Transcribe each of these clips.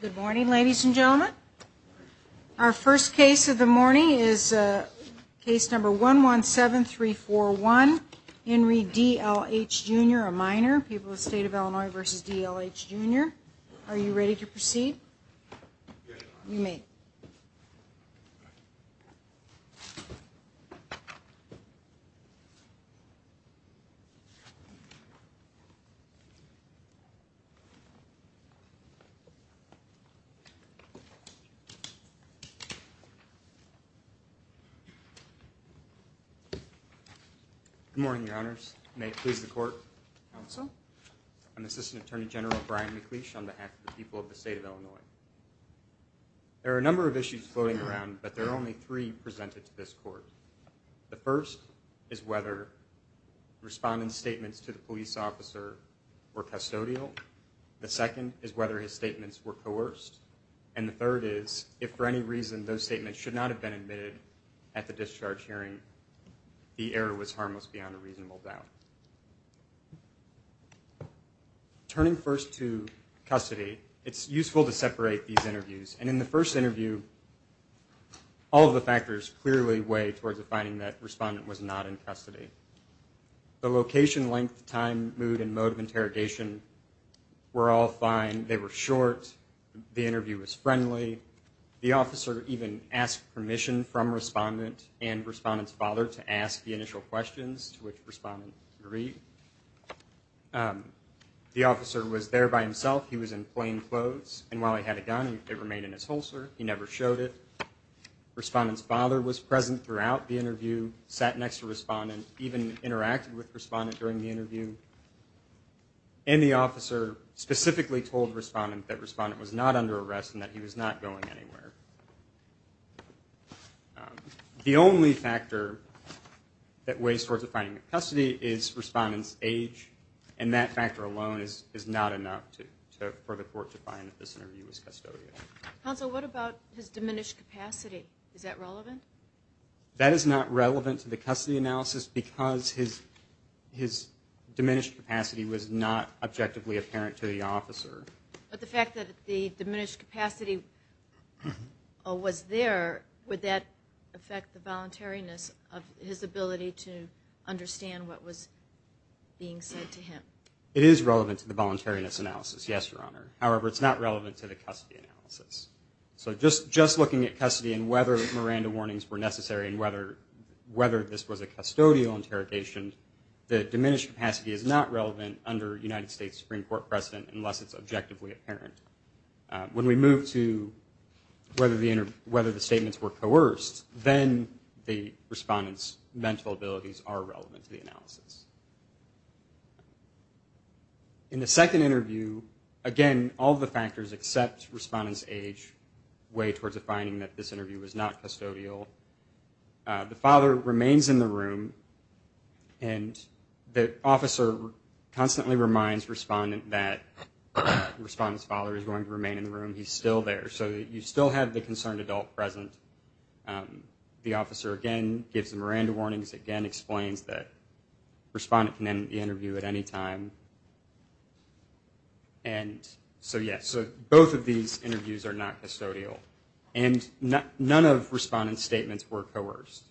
Good morning ladies and gentlemen. Our first case of the morning is a case number one one seven three four one Henry D.L.H. jr. a minor people the state of Illinois versus D.L.H. jr. Are you ready to proceed? Good morning your honors. May it please the court counsel. I'm assistant attorney general Brian McLeish on behalf of the people of the state of Illinois. There are a number of issues floating around but there are only three presented to this court. The first is whether respondent statements to the second is whether his statements were coerced and the third is if for any reason those statements should not have been admitted at the discharge hearing the error was harmless beyond a reasonable doubt. Turning first to custody it's useful to separate these interviews and in the first interview all of the factors clearly weigh towards the finding that respondent was not in custody. The location, length, time, mood and mode of interrogation were all fine. They were short. The interview was friendly. The officer even asked permission from respondent and respondent's father to ask the initial questions to which respondent agreed. The officer was there by himself. He was in plain clothes and while he had a gun it remained in his holster. He never showed it. Respondent's father was present throughout the interview, sat next to respondent, even interacted with respondent during the interview and the told respondent that respondent was not under arrest and that he was not going anywhere. The only factor that weighs towards the finding of custody is respondent's age and that factor alone is not enough for the court to find that this interview was custodial. Counsel, what about his diminished capacity? Is that relevant? That is not relevant to the custody analysis because his capacity is not objectively apparent to the officer. But the fact that the diminished capacity was there, would that affect the voluntariness of his ability to understand what was being said to him? It is relevant to the voluntariness analysis, yes, Your Honor. However, it's not relevant to the custody analysis. So just looking at custody and whether Miranda warnings were necessary and whether this was a custodial interrogation, the diminished capacity is not relevant under United States Supreme Court precedent unless it's objectively apparent. When we move to whether the statements were coerced, then the respondent's mental abilities are relevant to the analysis. In the second interview, again, all the factors except respondent's age weigh towards a finding that this was a custodial interrogation. And the officer constantly reminds respondent that the respondent's father is going to remain in the room. He's still there. So you still have the concerned adult present. The officer, again, gives the Miranda warnings, again, explains that the respondent can end the interview at any time. And so, yes, both of these interviews are not custodial. And none of respondent's statements were coerced.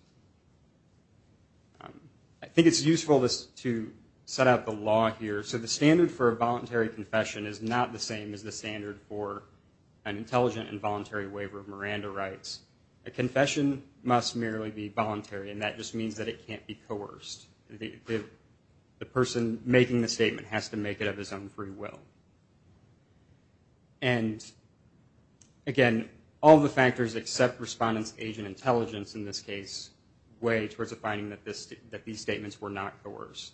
I think it's useful to set up the law here. So the standard for a voluntary confession is not the same as the standard for an intelligent and voluntary waiver of Miranda rights. A confession must merely be voluntary, and that just means that it can't be coerced. The person making the statement has to make it of his own free will. And, again, all the factors except respondent's age and intelligence, in this case, were not coerced.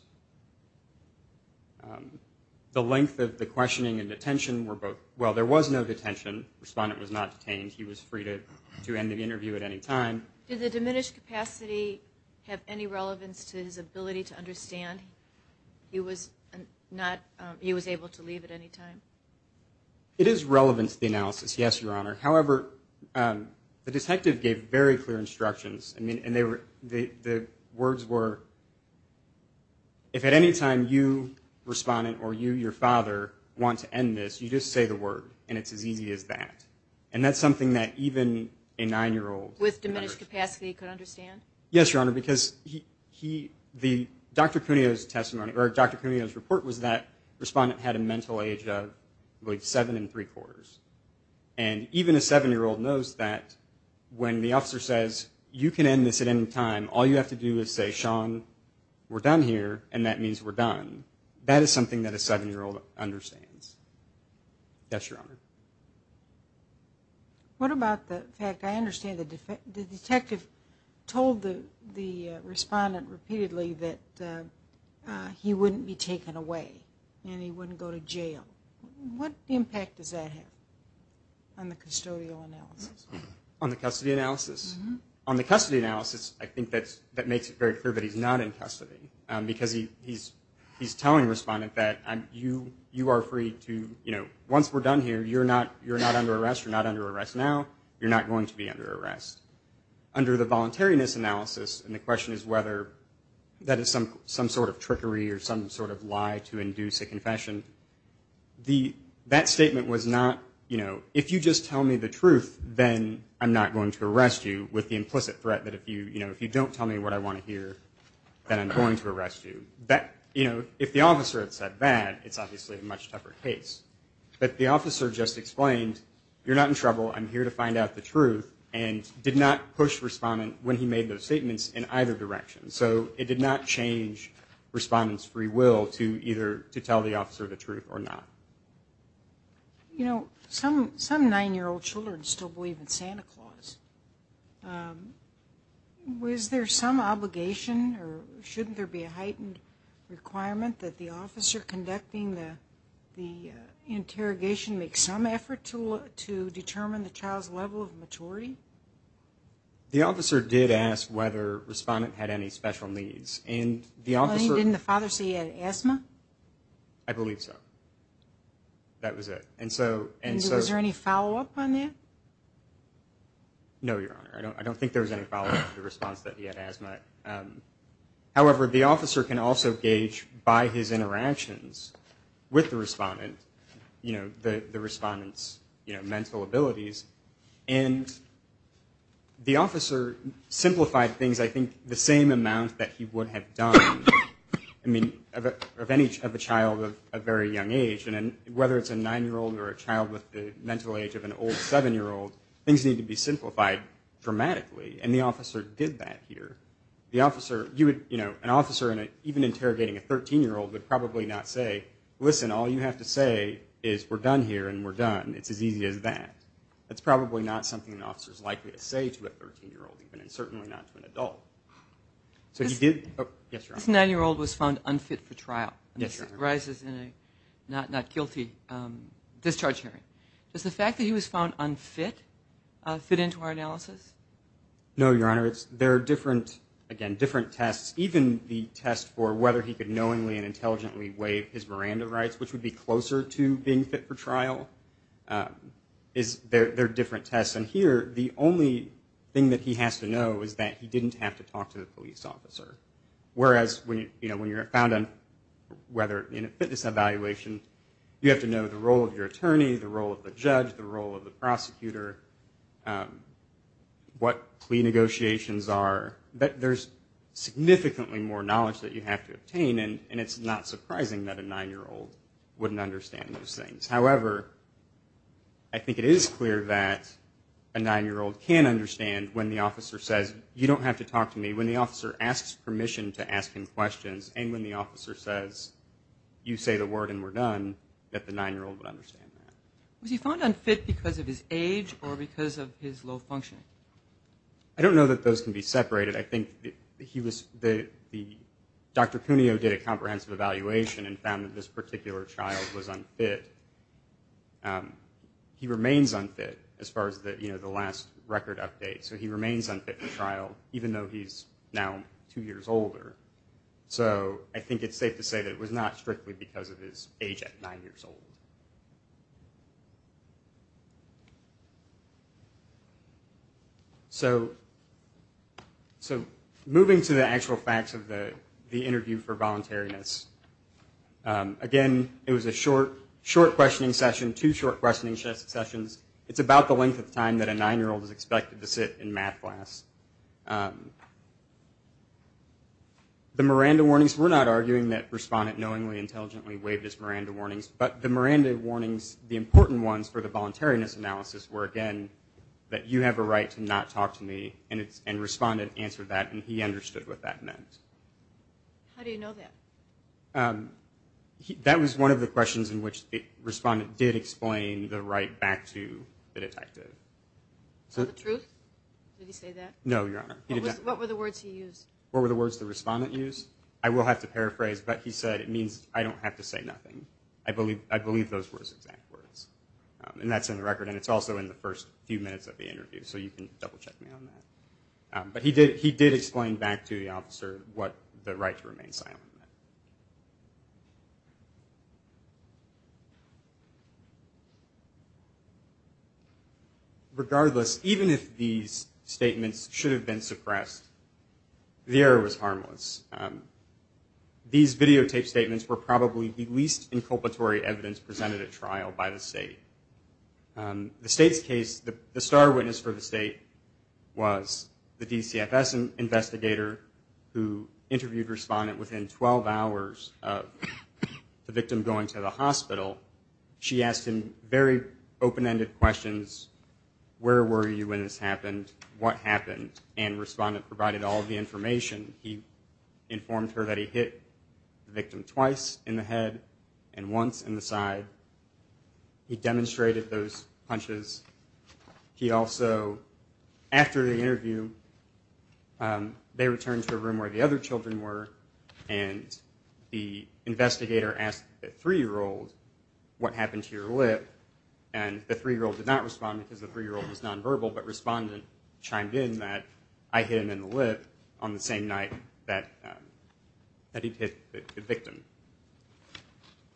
The length of the questioning and detention were both, well, there was no detention. Respondent was not detained. He was free to end the interview at any time. Did the diminished capacity have any relevance to his ability to understand he was able to leave at any time? It is relevant to the analysis, yes, Your Honor. However, the detective gave very clear instructions, and the words were, if at any time you, respondent, or you, your father, want to end this, you just say the word, and it's as easy as that. And that's something that even a nine-year-old could understand. Yes, Your Honor, because he, the, Dr. Cuneo's testimony, or Dr. Cuneo's report was that respondent had a mental age of, I believe, seven and three-quarters. And even a seven-year-old knows that when the officer says, you can end this at any time, all you have to do is say, Sean, we're done here, and that means we're done. That is something that a seven-year-old understands. Yes, Your Honor. What about the fact, I understand the detective told the respondent repeatedly that he wouldn't be taken away, and he wouldn't go to jail. What impact does that have on the custodial analysis? On the custody analysis? On the custody analysis, I think that makes it very clear that he's not in custody, because he's telling respondent that you are free to, you know, once we're done here, you're not under arrest, you're not under arrest now, you're not going to be under arrest. Under the voluntariness analysis, and the question is whether that is some sort of trickery or some sort of lie to induce a confession, that statement was not, you know, if you just tell me the truth, then I'm free to go. Then I'm not going to arrest you with the implicit threat that if you, you know, if you don't tell me what I want to hear, then I'm going to arrest you. That, you know, if the officer had said that, it's obviously a much tougher case. But the officer just explained, you're not in trouble, I'm here to find out the truth, and did not push respondent when he made those statements in either direction. So it did not change respondent's free will to either to tell the officer the truth or not. You know, some nine-year-old children still believe in Santa Claus. Was there some obligation or shouldn't there be a heightened requirement that the officer conducting the interrogation make some effort to determine the child's level of maturity? The officer did ask whether respondent had any special needs, and the officer... Didn't the father say he had asthma? I believe so. That was it. And so... And was there any follow-up on that? No, Your Honor. I don't think there was any follow-up to the response that he had asthma. However, the officer can also gauge by his interactions with the respondent, you know, the respondent's, you know, mental abilities. And the officer simplified things, I think, the same amount that he would have done, I mean, of a child of a very young age. And whether it's a nine-year-old or a child with the mental age of an old seven-year-old, things need to be simplified dramatically, and the officer did that here. The officer, you would, you know, an officer even interrogating a 13-year-old would probably not say, listen, all you have to say is we're done here and we're done. It's as easy as that. That's probably not something an officer's likely to say to a 13-year-old even, and certainly not to an adult. This nine-year-old was found unfit for trial. He arises in a not guilty discharge hearing. Does the fact that he was found unfit fit into our analysis? No, Your Honor. It's, there are different, again, different tests. Even the test for whether he could knowingly and intelligently waive his Miranda rights, which would be closer to being fit for trial, is, there are different tests. And here, the only thing that he has to know is that he didn't have to talk to the police officer. Whereas, you know, when you're found unfit, whether in a fitness evaluation, you have to know the role of your attorney, the role of the judge, the role of the prosecutor, what plea negotiations are. There's significantly more knowledge that you have to obtain, and it's not surprising that a nine-year-old wouldn't understand those things. However, I think it is clear that a nine-year-old can understand when the officer says, you don't have to talk to me, when the officer asks permission to ask him questions, and when the officer says, you say the word and we're done, that the nine-year-old would understand that. Was he found unfit because of his age or because of his low functioning? I don't know that those can be separated. I think he was, Dr. Cuneo did a comprehensive evaluation and found that this particular child was unfit. He remains unfit, as far as the last record update. So he remains unfit for trial, even though he's now two years older. So I think it's safe to say that it was not strictly because of his age at nine years old. So moving to the actual facts of the interview for voluntariness. Again, it was a short questioning session, two short questioning sessions. It's about the length of time that a nine-year-old is expected to sit in math class. The Miranda warnings, we're not arguing that Respondent knowingly, intelligently waived his Miranda warnings, but the Miranda warnings, the important ones for the voluntariness analysis were, again, that you have a right to not talk to me, and Respondent answered that and he understood what that meant. How do you know that? That was one of the questions in which Respondent did explain the right back to the detective. So the truth? Did he say that? No, Your Honor. What were the words he used? What were the words the Respondent used? I will have to paraphrase, but he said, it means I don't have to say nothing. I believe those were his exact words. And that's in the record, and it's also in the first few minutes of the interview, so you can double check me on that. But he did explain back to the officer what the right to remain silent meant. Regardless, even if these statements should have been suppressed, the error was harmless. These videotaped statements were probably the least inculpatory evidence presented at trial by the State. The State's case, the star witness for the State was the DCFS investigator who interviewed Respondent within 12 hours of the victim going to the hospital. She asked him very open-ended questions. Where were you when this happened? What happened? And Respondent provided all the information. He informed her that he hit the victim twice in the head and once in the side. He demonstrated those punches. He also, after the interview, they returned to a room where the other children were, and the investigator asked the three-year-old, what happened to your lip? And the three-year-old did not respond because the three-year-old was nonverbal, but Respondent chimed in that I hit him in the lip on the same night that he hit the victim.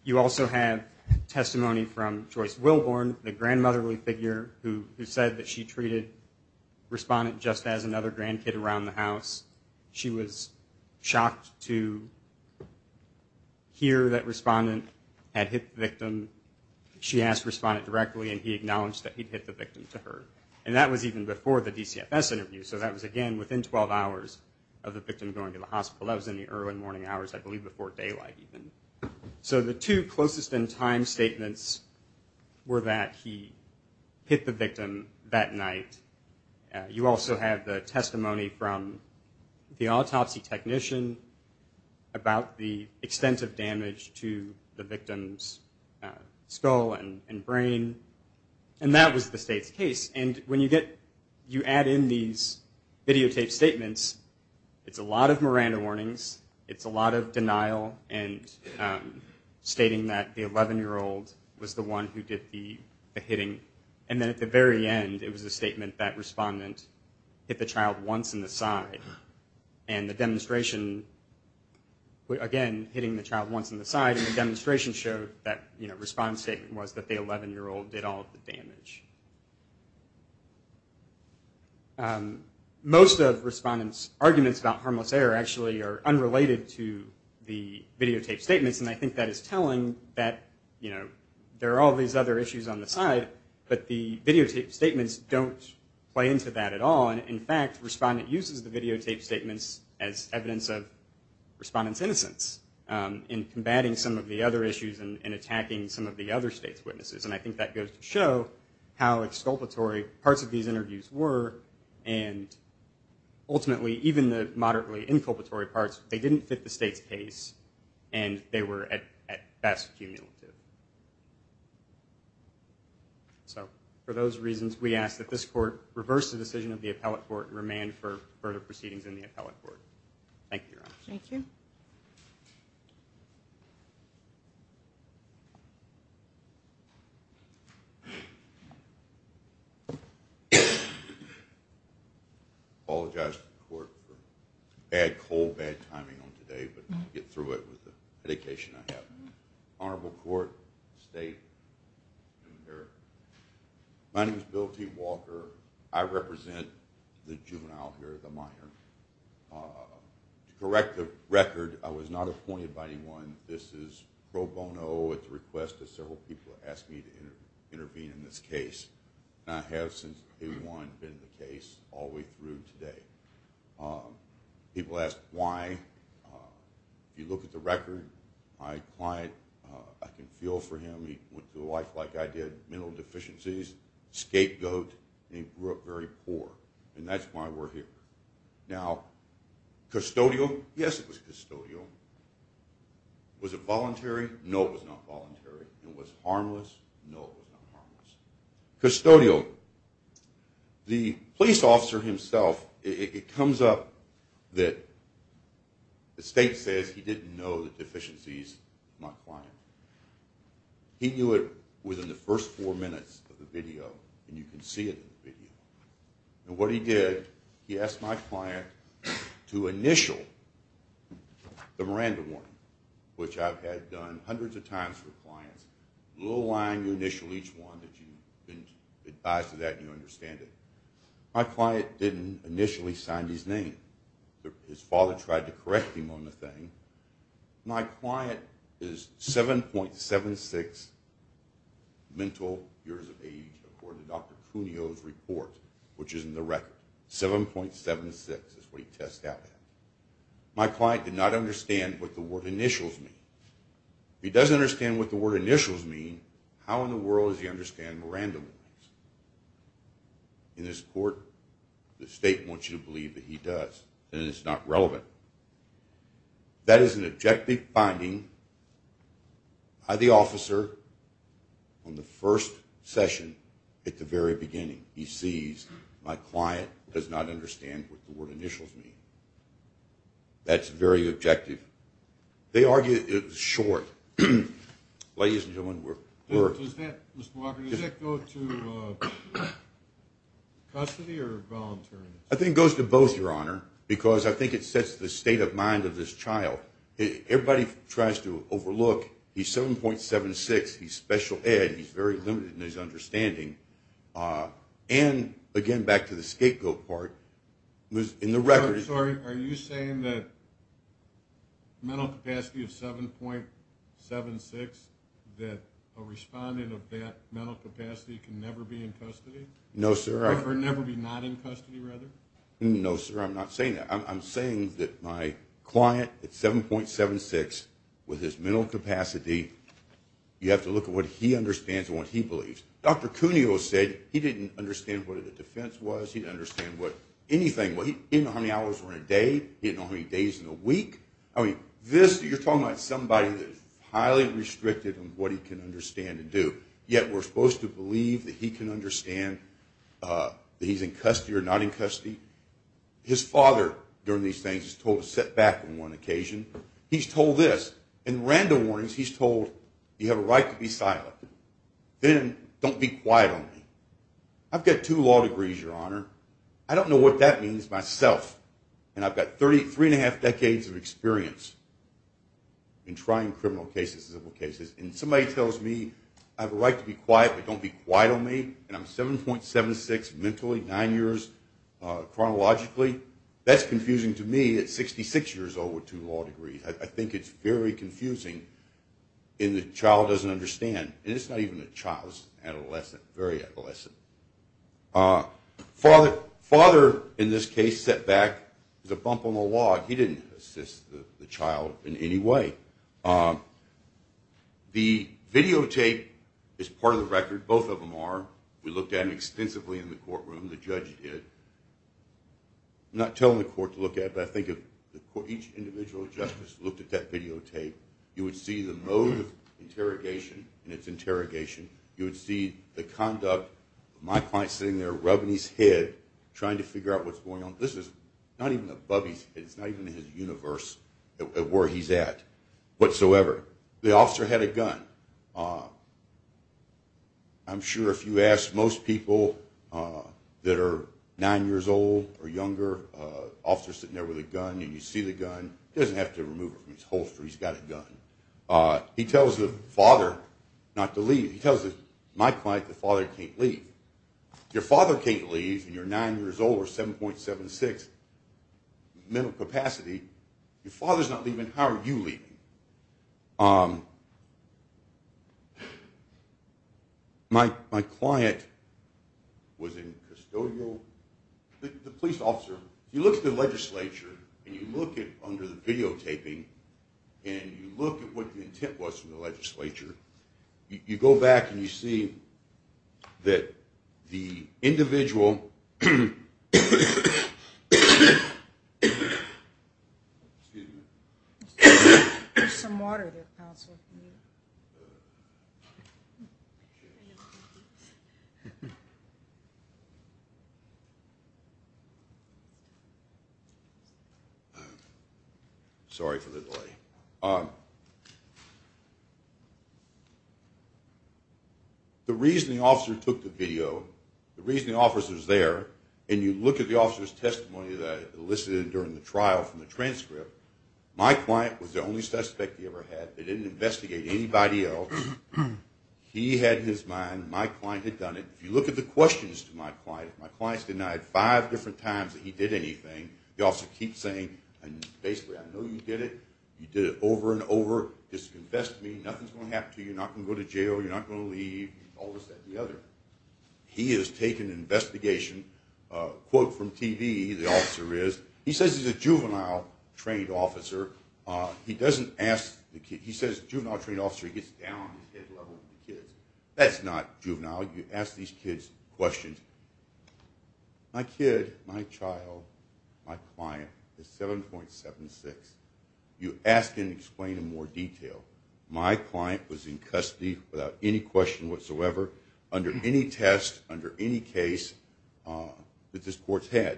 You also have testimony from Joyce Wilborn, the grandmotherly figure who said that she treated Respondent just as another grandkid around the house. She was shocked to hear that Respondent had hit the victim. She asked Respondent directly, and he acknowledged that he'd hit the victim to her. And that was even before the DCFS interview, so that was, again, within 12 hours of the victim going to the hospital. That was in the early morning hours, I believe before daylight even. So the two closest-in-time statements were that he hit the victim that night. You also have the testimony from the autopsy technician about the extent of damage to the victim's skull and brain. And when you add in these videotaped statements, it's a lot of Miranda warnings. It's a lot of denial and stating that the 11-year-old was the one who did the hitting. And then at the very end, it was a statement that Respondent hit the child once in the side. And the demonstration, again, hitting the child once in the side. And the demonstration showed that Respondent's statement was that the 11-year-old did all of the damage. Most of Respondent's arguments about harmless error actually are unrelated to the videotaped statements. And I think that is telling that there are all these other issues on the side, but the videotaped statements don't play into that at all. And, in fact, Respondent uses the videotaped statements as evidence of Respondent's innocence in combating some of the other issues and attacking some of the other state's witnesses. And I think that goes to show how exculpatory parts of these interviews were. And ultimately, even the moderately inculpatory parts, they didn't fit the state's case and they were, at best, cumulative. So, for those reasons, we ask that this Court reverse the decision of the Appellate Court and remand for further proceedings in the Appellate Court. Thank you, Your Honor. Thank you. I apologize to the Court for bad cold, bad timing on today, but I'll get through it with the medication I have. Honorable Court, State, New America. My name is Bill T. Walker. I represent the juvenile here, the minor. To correct the record, I was not appointed by anyone. This is pro bono at the request of several people who asked me to intervene in this case. And I have, since day one, been the case all the way through today. People ask why. You look at the record, my client, I can feel for him. He went through life like I did, mental deficiencies, scapegoat, and he grew up very poor. And that's why we're here. Now, custodial, yes, it was custodial. Was it voluntary? No, it was not voluntary. It was harmless? No, it was not harmless. Custodial. The police officer himself, it comes up that the State says he didn't know the deficiencies of my client. He knew it within the first four minutes of the video, and you can see it in the video. And what he did, he asked my client to initial the Miranda warning, which I've had done hundreds of times for clients. A little line, you initial each one that you've been advised to that, and you understand it. My client didn't initially sign his name. His father tried to correct him on the thing. My client is 7.76 mental years of age, according to Dr. Cuneo's report, which is in the record. 7.76 is what he tests out. My client did not understand what the word initials mean. If he doesn't understand what the word initials mean, how in the world does he understand Miranda warnings? In this court, the State wants you to believe that he does, and it's not relevant. That is an objective finding by the officer on the first session at the very beginning. He sees my client does not understand what the word initials mean. That's very objective. They argue it's short. Ladies and gentlemen, we're- Does that, Mr. Walker, does that go to custody or voluntary? I think it goes to both, Your Honor, because I think it sets the state of mind of this child. Everybody tries to overlook he's 7.76. He's special ed. He's very limited in his understanding. And, again, back to the scapegoat part, in the record- Sorry, are you saying that mental capacity of 7.76, that a respondent of that mental capacity can never be in custody? No, sir. Or never be not in custody, rather? No, sir, I'm not saying that. I'm saying that my client at 7.76, with his mental capacity, you have to look at what he understands and what he believes. Dr. Cuneo said he didn't understand what a defense was. He didn't understand what anything was. He didn't know how many hours were in a day. He didn't know how many days in a week. I mean, this, you're talking about somebody that's highly restricted in what he can understand and do, yet we're supposed to believe that he can understand that he's in custody or not in custody. His father, during these things, is told to sit back on one occasion. He's told this. In random warnings, he's told, you have a right to be silent. Then, don't be quiet on me. I've got two law degrees, Your Honor. I don't know what that means myself, and I've got three and a half decades of experience in trying criminal cases, civil cases, and somebody tells me I have a right to be quiet, but don't be quiet on me, and I'm 7.76 mentally, nine years chronologically. That's confusing to me at 66 years old with two law degrees. I think it's very confusing, and the child doesn't understand. And it's not even a child. It's an adolescent, very adolescent. Father, in this case, sat back. There's a bump on the law. He didn't assist the child in any way. The videotape is part of the record. Both of them are. We looked at them extensively in the courtroom. The judge did. I'm not telling the court to look at it, but I think if each individual justice looked at that videotape, you would see the mode of interrogation and its interrogation. You would see the conduct. My client's sitting there rubbing his head, trying to figure out what's going on. This is not even above his head. It's not even in his universe where he's at whatsoever. The officer had a gun. I'm sure if you ask most people that are nine years old or younger, the officer's sitting there with a gun, and you see the gun. He doesn't have to remove it from his holster. He's got a gun. He tells the father not to leave. He tells my client, the father can't leave. Your father can't leave, and you're nine years old or 7.76 in mental capacity. Your father's not leaving. How are you leaving? My client was in custodial. The police officer, you look at the legislature, and you look under the videotaping, and you look at what the intent was from the legislature. You go back, and you see that the individual. Sorry for the delay. The reasoning officer took the video. The reasoning officer's there, and you look at the officer's testimony that I elicited during the trial from the transcript. My client was the only suspect he ever had. They didn't investigate anybody else. He had his mind. My client had done it. If you look at the questions to my client, my client's denied five different times that he did anything. The officer keeps saying, basically, I know you did it. You did it over and over. Just confess to me. Nothing's going to happen to you. You're not going to go to jail. You're not going to leave. All this, that, and the other. He has taken an investigation. Quote from TV, the officer is. He says he's a juvenile trained officer. He doesn't ask the kid. He says juvenile trained officer. He gets down on his head level with the kids. That's not juvenile. You ask these kids questions. My kid, my child, my client is 7.76. You ask and explain in more detail. My client was in custody without any question whatsoever, under any test, under any case that this court's had.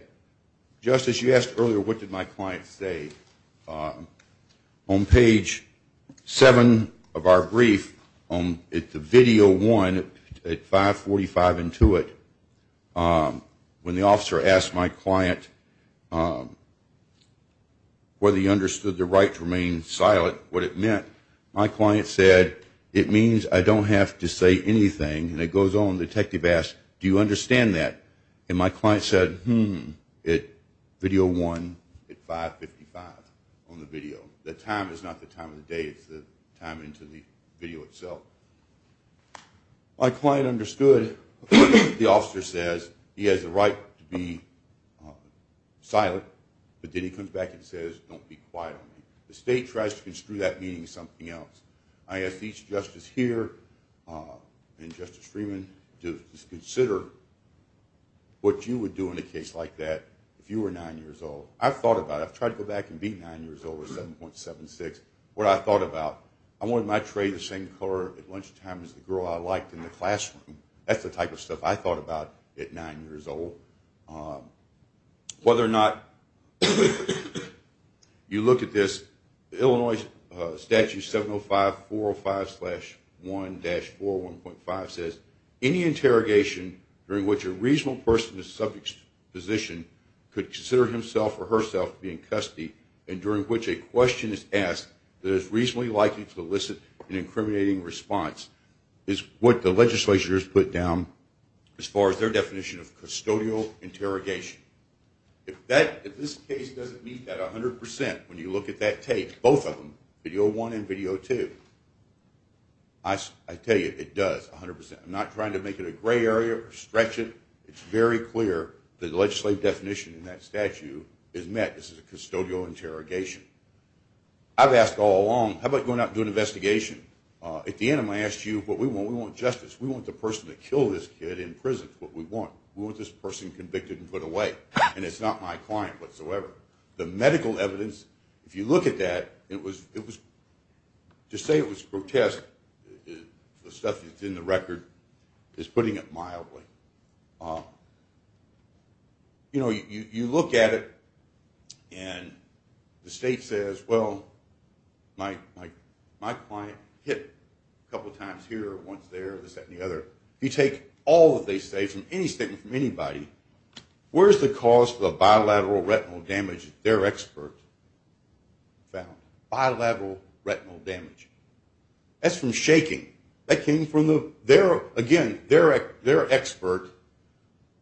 Justice, you asked earlier what did my client say. On page seven of our brief, at the video one, at 545 Intuit, when the officer asked my client whether he understood the right to remain silent, what it meant, my client said, it means I don't have to say anything. And it goes on. The detective asks, do you understand that? And my client said, hmm, at video one at 555 on the video. The time is not the time of the day. It's the time into the video itself. My client understood. The officer says he has the right to be silent. But then he comes back and says, don't be quiet on me. The state tries to construe that meaning as something else. I ask each justice here and Justice Freeman to consider what you would do in a case like that if you were nine years old. I've thought about it. I've tried to go back and be nine years old at 7.76. What I thought about, I wanted my tray the same color at lunchtime as the girl I liked in the classroom. That's the type of stuff I thought about at nine years old. Whether or not you look at this, Illinois Statute 705.405.1-4.1.5 says, any interrogation during which a reasonable person in the subject's position could consider himself or herself to be in custody, and during which a question is asked that is reasonably likely to elicit an incriminating response, is what the legislature has put down as far as their definition of custodial interrogation. If this case doesn't meet that 100% when you look at that tape, both of them, video one and video two, I tell you, it does 100%. I'm not trying to make it a gray area or stretch it. It's very clear that the legislative definition in that statute is met. This is a custodial interrogation. I've asked all along, how about going out and doing an investigation? At the end, I'm going to ask you what we want. We want justice. We want the person to kill this kid in prison. That's what we want. We want this person convicted and put away, and it's not my client whatsoever. The medical evidence, if you look at that, to say it was grotesque, the stuff that's in the record, is putting it mildly. You know, you look at it, and the state says, well, my client hit a couple times here, once there, this, that, and the other. You take all that they say from any statement from anybody, where's the cause for the bilateral retinal damage their expert found? Bilateral retinal damage. That's from shaking. That came from their expert.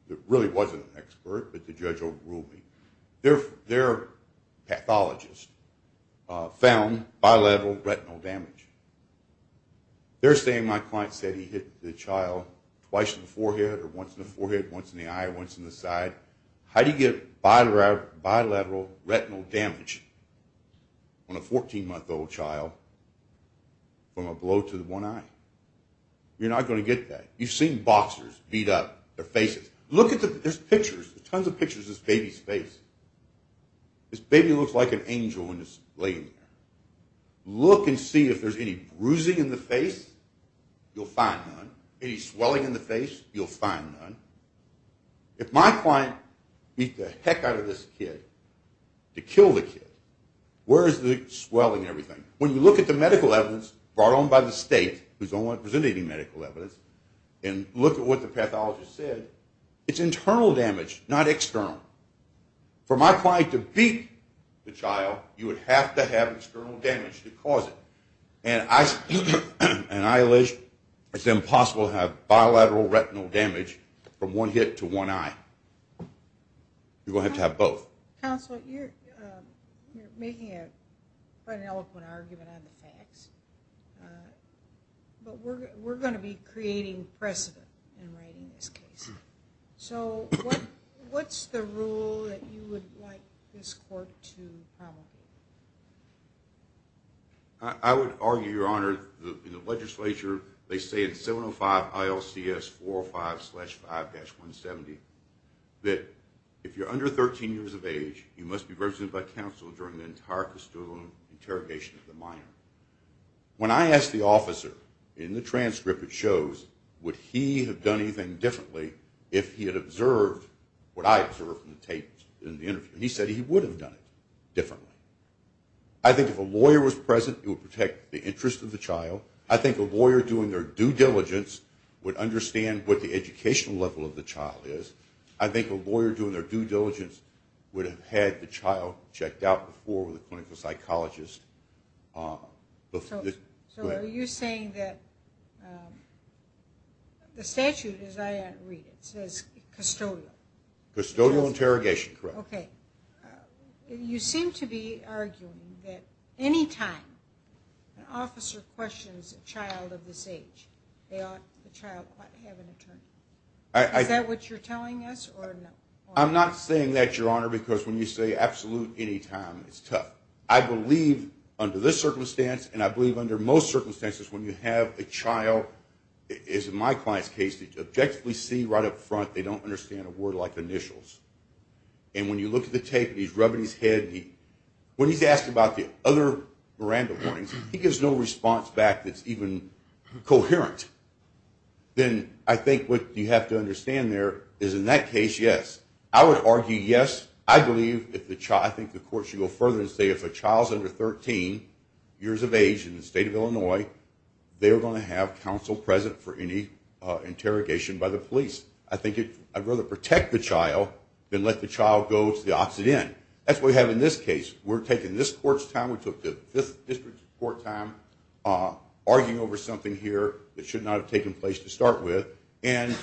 It really wasn't an expert, but the judge overruled me. Their pathologist found bilateral retinal damage. They're saying my client said he hit the child twice in the forehead, or once in the forehead, once in the eye, once in the side. How do you get bilateral retinal damage on a 14-month-old child from a blow to the one eye? You're not going to get that. You've seen boxers beat up their faces. Look at this picture. There's tons of pictures of this baby's face. This baby looks like an angel when it's laying there. Look and see if there's any bruising in the face. You'll find none. Any swelling in the face, you'll find none. If my client beat the heck out of this kid to kill the kid, where is the swelling and everything? When you look at the medical evidence brought on by the state, who's the only one presenting medical evidence, and look at what the pathologist said, it's internal damage, not external. For my client to beat the child, you would have to have external damage to cause it. And I allege it's impossible to have bilateral retinal damage from one hit to one eye. You're going to have to have both. Counsel, you're making quite an eloquent argument on the facts, but we're going to be creating precedent in writing this case. So what's the rule that you would like this court to promulgate? I would argue, Your Honor, in the legislature they say in 705 ILCS 405-5-170 that if you're under 13 years of age, you must be represented by counsel during the entire custodial interrogation of the minor. When I asked the officer, in the transcript it shows, would he have done anything differently if he had observed what I observed in the tape, in the interview, and he said he would have done it differently. I think if a lawyer was present, it would protect the interest of the child. I think a lawyer doing their due diligence would understand what the educational level of the child is. I think a lawyer doing their due diligence would have had the child checked out before with a clinical psychologist. So are you saying that the statute, as I read it, says custodial? Custodial interrogation, correct. Okay. You seem to be arguing that any time an officer questions a child of this age, they ought to have an attorney. Is that what you're telling us? I'm not saying that, Your Honor, because when you say absolute any time, it's tough. I believe under this circumstance, and I believe under most circumstances, when you have a child, as in my client's case, they objectively see right up front they don't understand a word like initials. And when you look at the tape and he's rubbing his head, when he's asked about the other Miranda warnings, he gives no response back that's even coherent. Then I think what you have to understand there is in that case, yes. I would argue yes. I think the court should go further and say if a child is under 13 years of age in the state of Illinois, they are going to have counsel present for any interrogation by the police. I think I'd rather protect the child than let the child go to the opposite end. That's what we have in this case. We're taking this court's time, we took the 5th District's court time, arguing over something here that should not have taken place to start with. And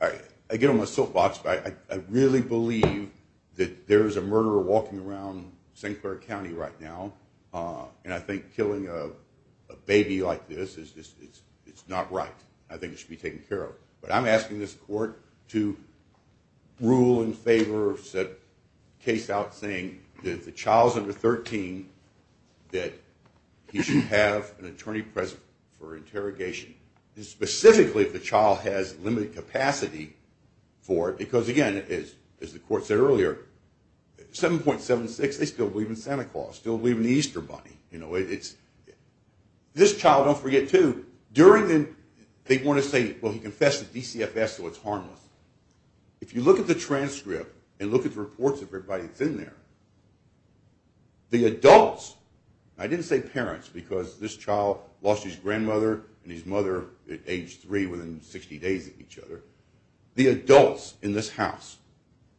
I get on my soapbox, but I really believe that there is a murderer walking around St. Clair County right now, and I think killing a baby like this is not right. I think it should be taken care of. But I'm asking this court to rule in favor, set a case out saying that if the child is under 13, that he should have an attorney present for interrogation, specifically if the child has limited capacity for it. Because, again, as the court said earlier, 7.76, they still believe in Santa Claus, still believe in the Easter Bunny. This child, don't forget, too, they want to say, well, he confessed to DCFS, so it's harmless. If you look at the transcript and look at the reports of everybody that's in there, the adults, I didn't say parents because this child lost his grandmother and his mother at age three within 60 days of each other, the adults in this house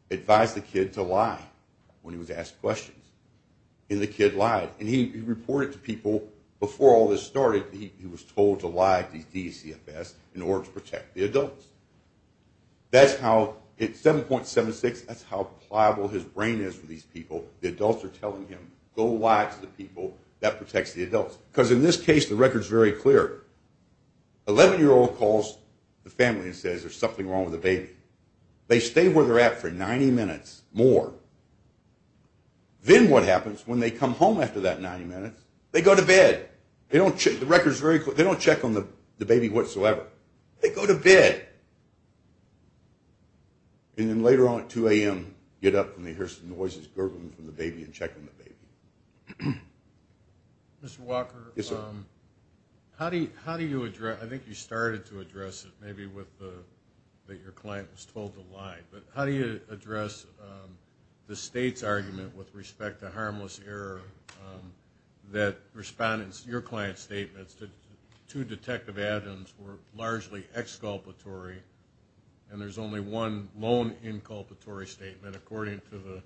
advised the kid to lie when he was asked questions, and the kid lied. And he reported to people before all this started that he was told to lie to DCFS in order to protect the adults. That's how, at 7.76, that's how pliable his brain is for these people. The adults are telling him, go lie to the people, that protects the adults. Because in this case, the record's very clear. An 11-year-old calls the family and says there's something wrong with the baby. They stay where they're at for 90 minutes more. Then what happens when they come home after that 90 minutes? They go to bed. The record's very clear. They don't check on the baby whatsoever. They go to bed. And then later on at 2 a.m., get up and they hear some noises, gurgling from the baby, and check on the baby. Mr. Walker? Yes, sir. How do you address, I think you started to address it, maybe with that your client was told to lie, but how do you address the state's argument with respect to harmless error that respondents, your client's statements, that two detective addends were largely exculpatory and there's only one lone inculpatory statement, according to the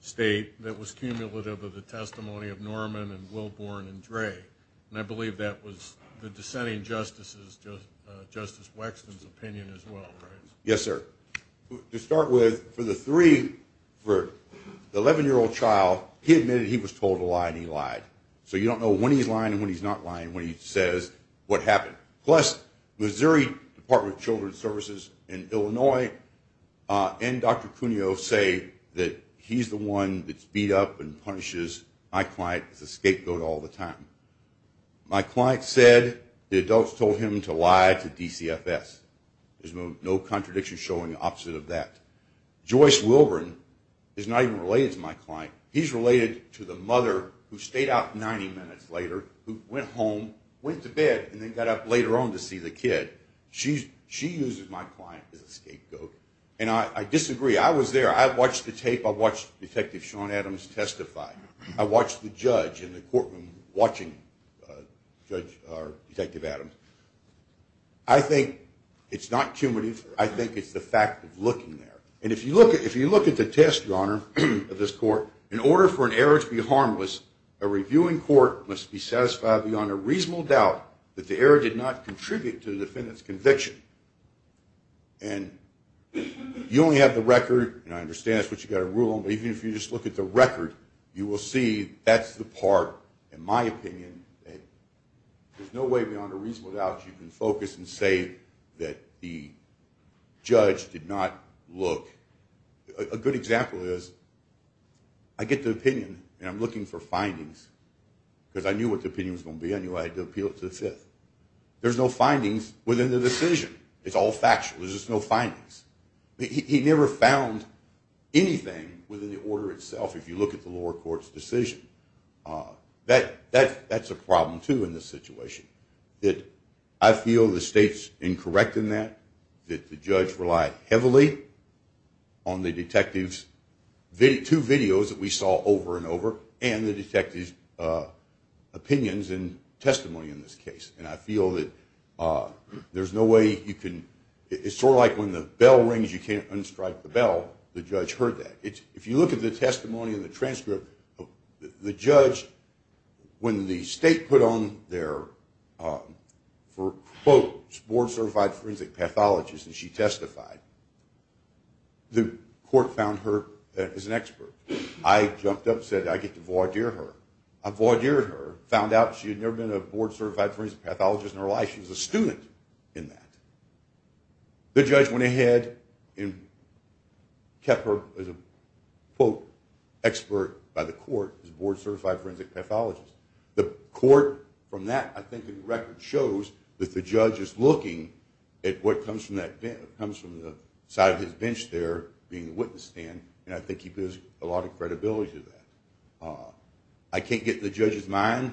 state, that was cumulative of the testimony of Norman and Wilborn and Dre? And I believe that was the dissenting justice's, Justice Wexton's opinion as well, right? Yes, sir. To start with, for the three, for the 11-year-old child, he admitted he was told to lie and he lied. So you don't know when he's lying and when he's not lying, when he says what happened. Plus, Missouri Department of Children's Services in Illinois and Dr. Cuneo say that he's the one that's beat up and punishes my client as a scapegoat all the time. My client said the adults told him to lie to DCFS. There's no contradiction showing the opposite of that. Joyce Wilborn is not even related to my client. He's related to the mother who stayed out 90 minutes later, who went home, went to bed, and then got up later on to see the kid. She uses my client as a scapegoat. And I disagree. I was there. I watched the tape. I watched Detective Sean Adams testify. I watched the judge in the courtroom watching Detective Adams. I think it's not cumulative. I think it's the fact of looking there. And if you look at the test, Your Honor, of this court, in order for an error to be harmless, a reviewing court must be satisfied beyond a reasonable doubt that the error did not contribute to the defendant's conviction. And you only have the record, and I understand that's what you've got to rule on, but even if you just look at the record, you will see that's the part, in my opinion, that there's no way beyond a reasonable doubt you can focus and say that the judge did not look. A good example is I get the opinion, and I'm looking for findings, because I knew what the opinion was going to be. I knew I had to appeal it to the Fifth. There's no findings within the decision. It's all factual. There's just no findings. He never found anything within the order itself, if you look at the lower court's decision. That's a problem, too, in this situation, that I feel the State's incorrect in that, that the judge relied heavily on the detective's two videos that we saw over and over and the detective's opinions and testimony in this case. And I feel that there's no way you can – it's sort of like when the bell rings, you can't unstrike the bell. The judge heard that. If you look at the testimony in the transcript, the judge, when the State put on their – for, quote, board-certified forensic pathologist, and she testified, the court found her as an expert. I jumped up and said, I get to voir dire her. I voir dire her, found out she had never been a board-certified forensic pathologist in her life. She was a student in that. The judge went ahead and kept her as a, quote, expert by the court, as a board-certified forensic pathologist. The court, from that, I think the record shows that the judge is looking at what comes from that – comes from the side of his bench there being the witness stand, and I think he builds a lot of credibility to that. I can't get in the judge's mind.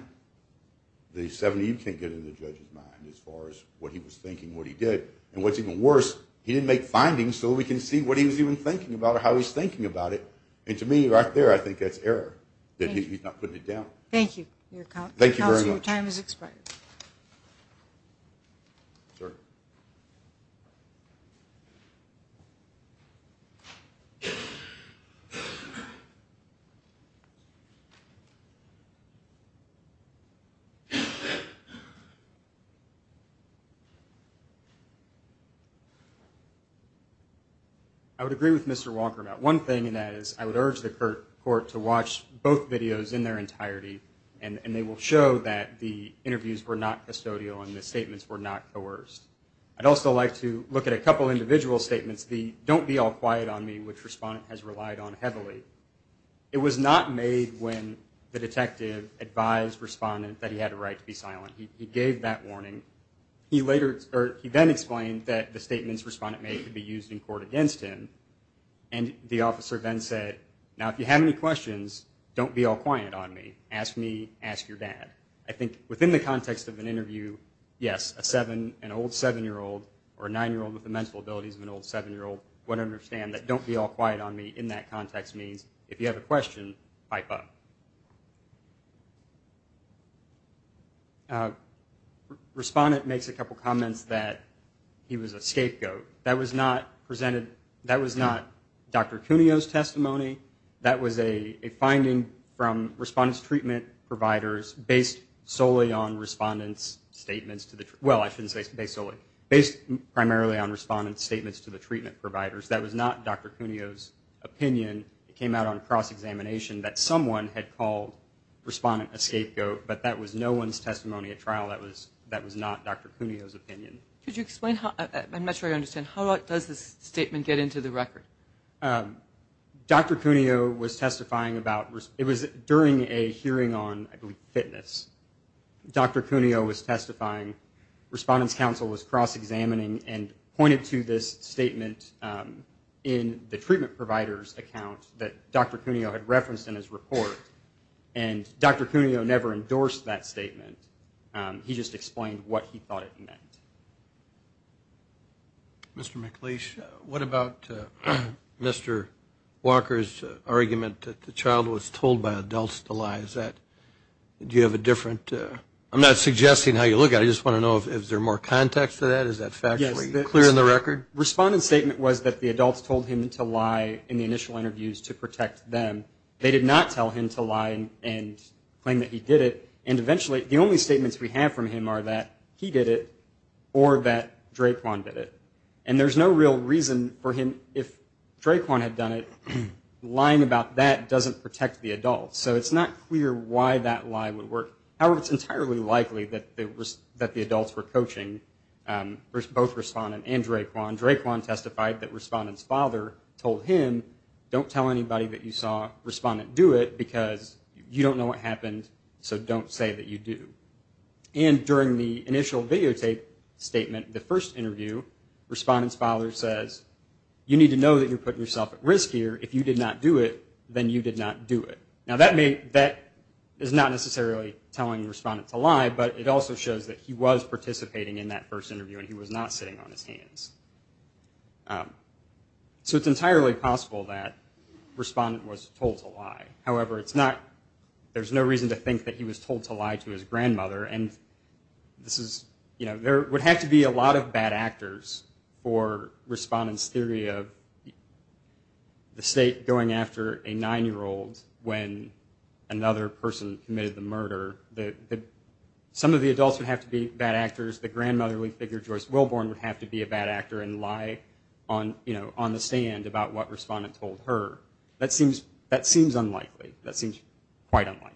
You can't get in the judge's mind as far as what he was thinking, what he did. And what's even worse, he didn't make findings so we can see what he was even thinking about or how he was thinking about it. And to me, right there, I think that's error, that he's not putting it down. Thank you. Thank you very much. Counselor, your time has expired. Sir? Thank you. I would agree with Mr. Walker about one thing, and that is I would urge the court to watch both videos in their entirety, and they will show that the interviews were not custodial and the statements were not coerced. I'd also like to look at a couple individual statements, the don't be all quiet on me, which Respondent has relied on heavily. It was not made when the detective advised Respondent that he had a right to be silent. He gave that warning. He then explained that the statements Respondent made could be used in court against him, and the officer then said, now, if you have any questions, don't be all quiet on me. Ask me, ask your dad. I think within the context of an interview, yes, an old seven-year-old or a nine-year-old with the mental abilities of an old seven-year-old would understand that don't be all quiet on me in that context means if you have a question, pipe up. Respondent makes a couple comments that he was a scapegoat. That was not presented, that was not Dr. Cuneo's testimony. That was a finding from Respondent's treatment providers based solely on Respondent's statements to the, well, I shouldn't say based solely, based primarily on Respondent's statements to the treatment providers. That was not Dr. Cuneo's opinion. It came out on cross-examination that someone had called Respondent a scapegoat, but that was no one's testimony at trial. That was not Dr. Cuneo's opinion. Could you explain, I'm not sure I understand, how does this statement get into the record? Dr. Cuneo was testifying about, it was during a hearing on, I believe, fitness. Dr. Cuneo was testifying, Respondent's counsel was cross-examining and pointed to this statement in the treatment provider's account that Dr. Cuneo had referenced in his report, and Dr. Cuneo never endorsed that statement. He just explained what he thought it meant. Mr. McLeish, what about Mr. Walker's argument that the child was told by adults to lie? Is that, do you have a different, I'm not suggesting how you look at it. I just want to know if there's more context to that. Is that factually clear in the record? Respondent's statement was that the adults told him to lie in the initial interviews to protect them. They did not tell him to lie and claim that he did it, and eventually the only statements we have from him are that he did it or that Drayquan did it. And there's no real reason for him, if Drayquan had done it, lying about that doesn't protect the adults. So it's not clear why that lie would work. However, it's entirely likely that the adults were coaching both Respondent and Drayquan. Drayquan testified that Respondent's father told him, don't tell anybody that you saw Respondent do it because you don't know what happened, so don't say that you do. And during the initial videotape statement, the first interview, Respondent's father says, you need to know that you're putting yourself at risk here. If you did not do it, then you did not do it. Now that is not necessarily telling Respondent to lie, but it also shows that he was participating in that first interview and he was not sitting on his hands. So it's entirely possible that Respondent was told to lie. However, there's no reason to think that he was told to lie to his grandmother. There would have to be a lot of bad actors for Respondent's theory of the state going after a nine-year-old when another person committed the murder. Some of the adults would have to be bad actors. The grandmother, we figure, Joyce Wilborn, would have to be a bad actor and lie on the stand about what Respondent told her. That seems unlikely. That seems quite unlikely.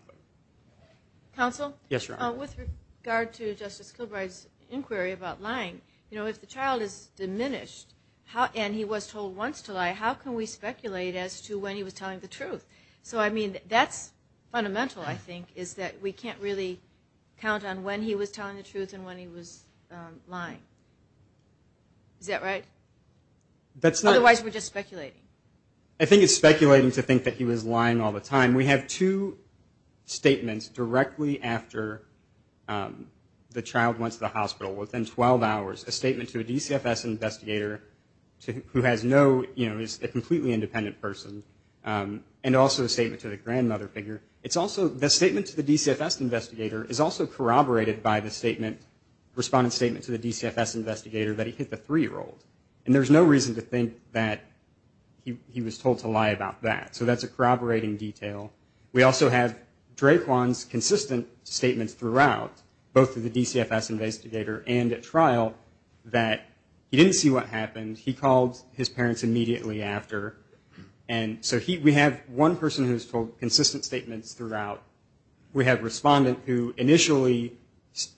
Counsel? Yes, Your Honor. With regard to Justice Kilbride's inquiry about lying, if the child is diminished and he was told once to lie, how can we speculate as to when he was telling the truth? So, I mean, that's fundamental, I think, is that we can't really count on when he was telling the truth and when he was lying. Is that right? Otherwise, we're just speculating. I think it's speculating to think that he was lying all the time. We have two statements directly after the child went to the hospital. Within 12 hours, a statement to a DCFS investigator who is a completely independent person and also a statement to the grandmother figure. The statement to the DCFS investigator is also corroborated by the Respondent's statement to the DCFS investigator that he hit the three-year-old. And there's no reason to think that he was told to lie about that. So that's a corroborating detail. We also have Draquan's consistent statements throughout, both to the DCFS investigator and at trial, that he didn't see what happened. He called his parents immediately after. And so we have one person who's told consistent statements throughout. We have Respondent who initially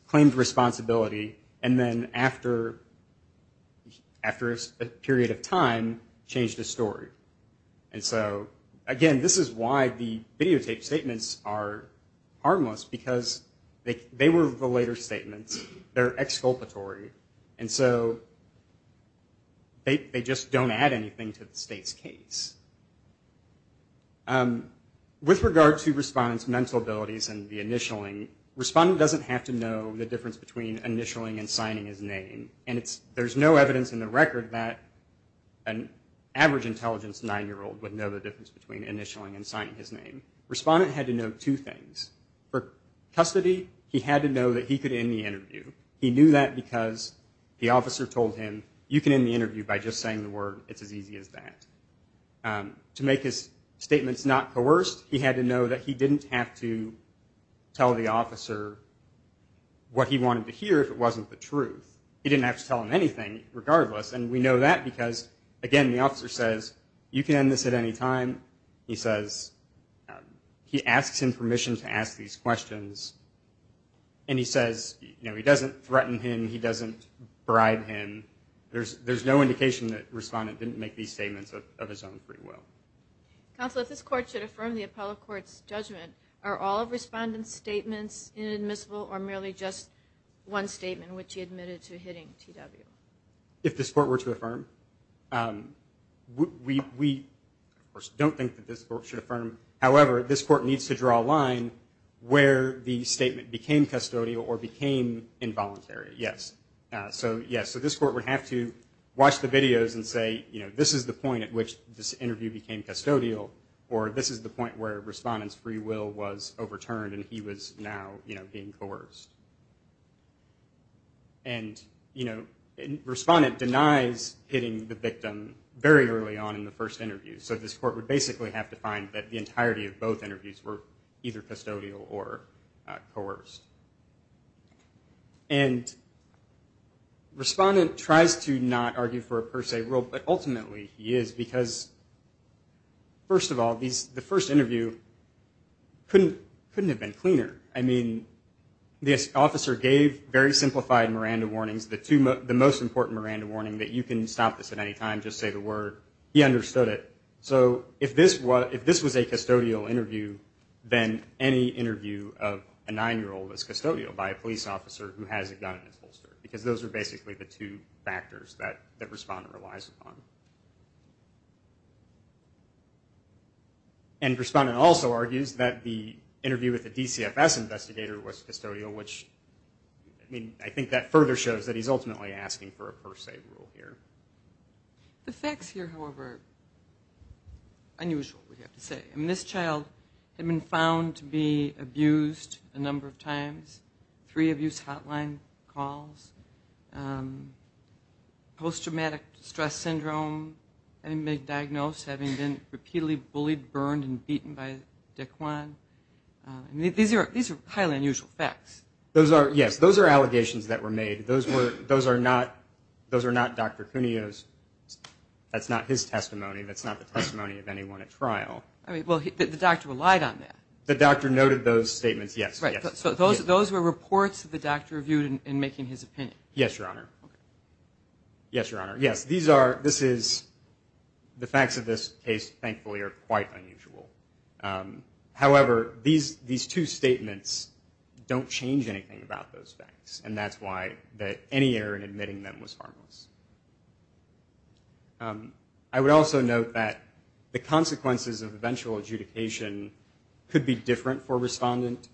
claimed responsibility and then after a period of time changed his story. And so, again, this is why the videotaped statements are harmless because they were the later statements. They're exculpatory. And so they just don't add anything to the State's case. With regard to Respondent's mental abilities and the initialing, Respondent doesn't have to know the difference between initialing and signing his name. And there's no evidence in the record that an average intelligence nine-year-old would know the difference between initialing and signing his name. Respondent had to know two things. For custody, he had to know that he could end the interview. He knew that because the officer told him, you can end the interview by just saying the word, it's as easy as that. To make his statements not coerced, he had to know that he didn't have to tell the officer what he wanted to hear if it wasn't the truth. He didn't have to tell him anything regardless. And we know that because, again, the officer says, you can end this at any time. He says he asks him permission to ask these questions. And he says, you know, he doesn't threaten him. He doesn't bribe him. There's no indication that Respondent didn't make these statements of his own free will. Counsel, if this Court should affirm the appellate court's judgment, are all of Respondent's statements inadmissible or merely just one statement which he admitted to hitting TW? If this Court were to affirm, we don't think that this Court should affirm. However, this Court needs to draw a line where the statement became custodial or became involuntary, yes. So, yes, this Court would have to watch the videos and say, you know, this is the point at which this interview became custodial or this is the point where Respondent's free will was overturned and he was now, you know, being coerced. And, you know, Respondent denies hitting the victim very early on in the first interview. So this Court would basically have to find that the entirety of both interviews were either custodial or coerced. And Respondent tries to not argue for a per se rule, but ultimately he is because, first of all, the first interview couldn't have been cleaner. I mean, the officer gave very simplified Miranda warnings, the most important Miranda warning that you can stop this at any time, just say the word, he understood it. So if this was a custodial interview, then any interview of a 9-year-old is custodial because those are basically the two factors that Respondent relies upon. And Respondent also argues that the interview with the DCFS investigator was custodial, which, I mean, I think that further shows that he's ultimately asking for a per se rule here. The facts here, however, are unusual, we have to say. I mean, this child had been found to be abused a number of times, three abuse hotline calls, post-traumatic stress syndrome, having been diagnosed, having been repeatedly bullied, burned, and beaten by DECLAN. I mean, these are highly unusual facts. Yes, those are allegations that were made. Those are not Dr. Cuneo's, that's not his testimony, that's not the testimony of anyone at trial. Well, the doctor relied on that. The doctor noted those statements, yes. Right, so those were reports that the doctor reviewed in making his opinion. Yes, Your Honor. Yes, Your Honor. Yes, these are, this is, the facts of this case, thankfully, are quite unusual. However, these two statements don't change anything about those facts, and that's why any error in admitting them was harmless. I would also note that the consequences of eventual adjudication could be different for a respondent,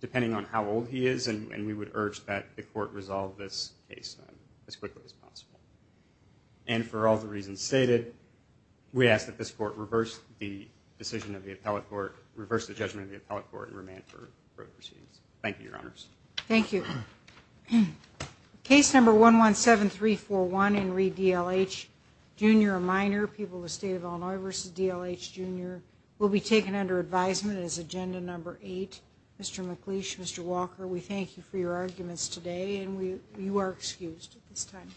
depending on how old he is, and we would urge that the court resolve this case as quickly as possible. And for all the reasons stated, we ask that this court reverse the decision of the appellate court, reverse the judgment of the appellate court, and remand for proceedings. Thank you, Your Honors. Thank you. Case number 117341, Henry D. L. H., Jr., a minor, people of the State of Illinois, versus D. L. H., Jr., will be taken under advisement as agenda number eight. Mr. McLeish, Mr. Walker, we thank you for your arguments today, and you are excused at this time.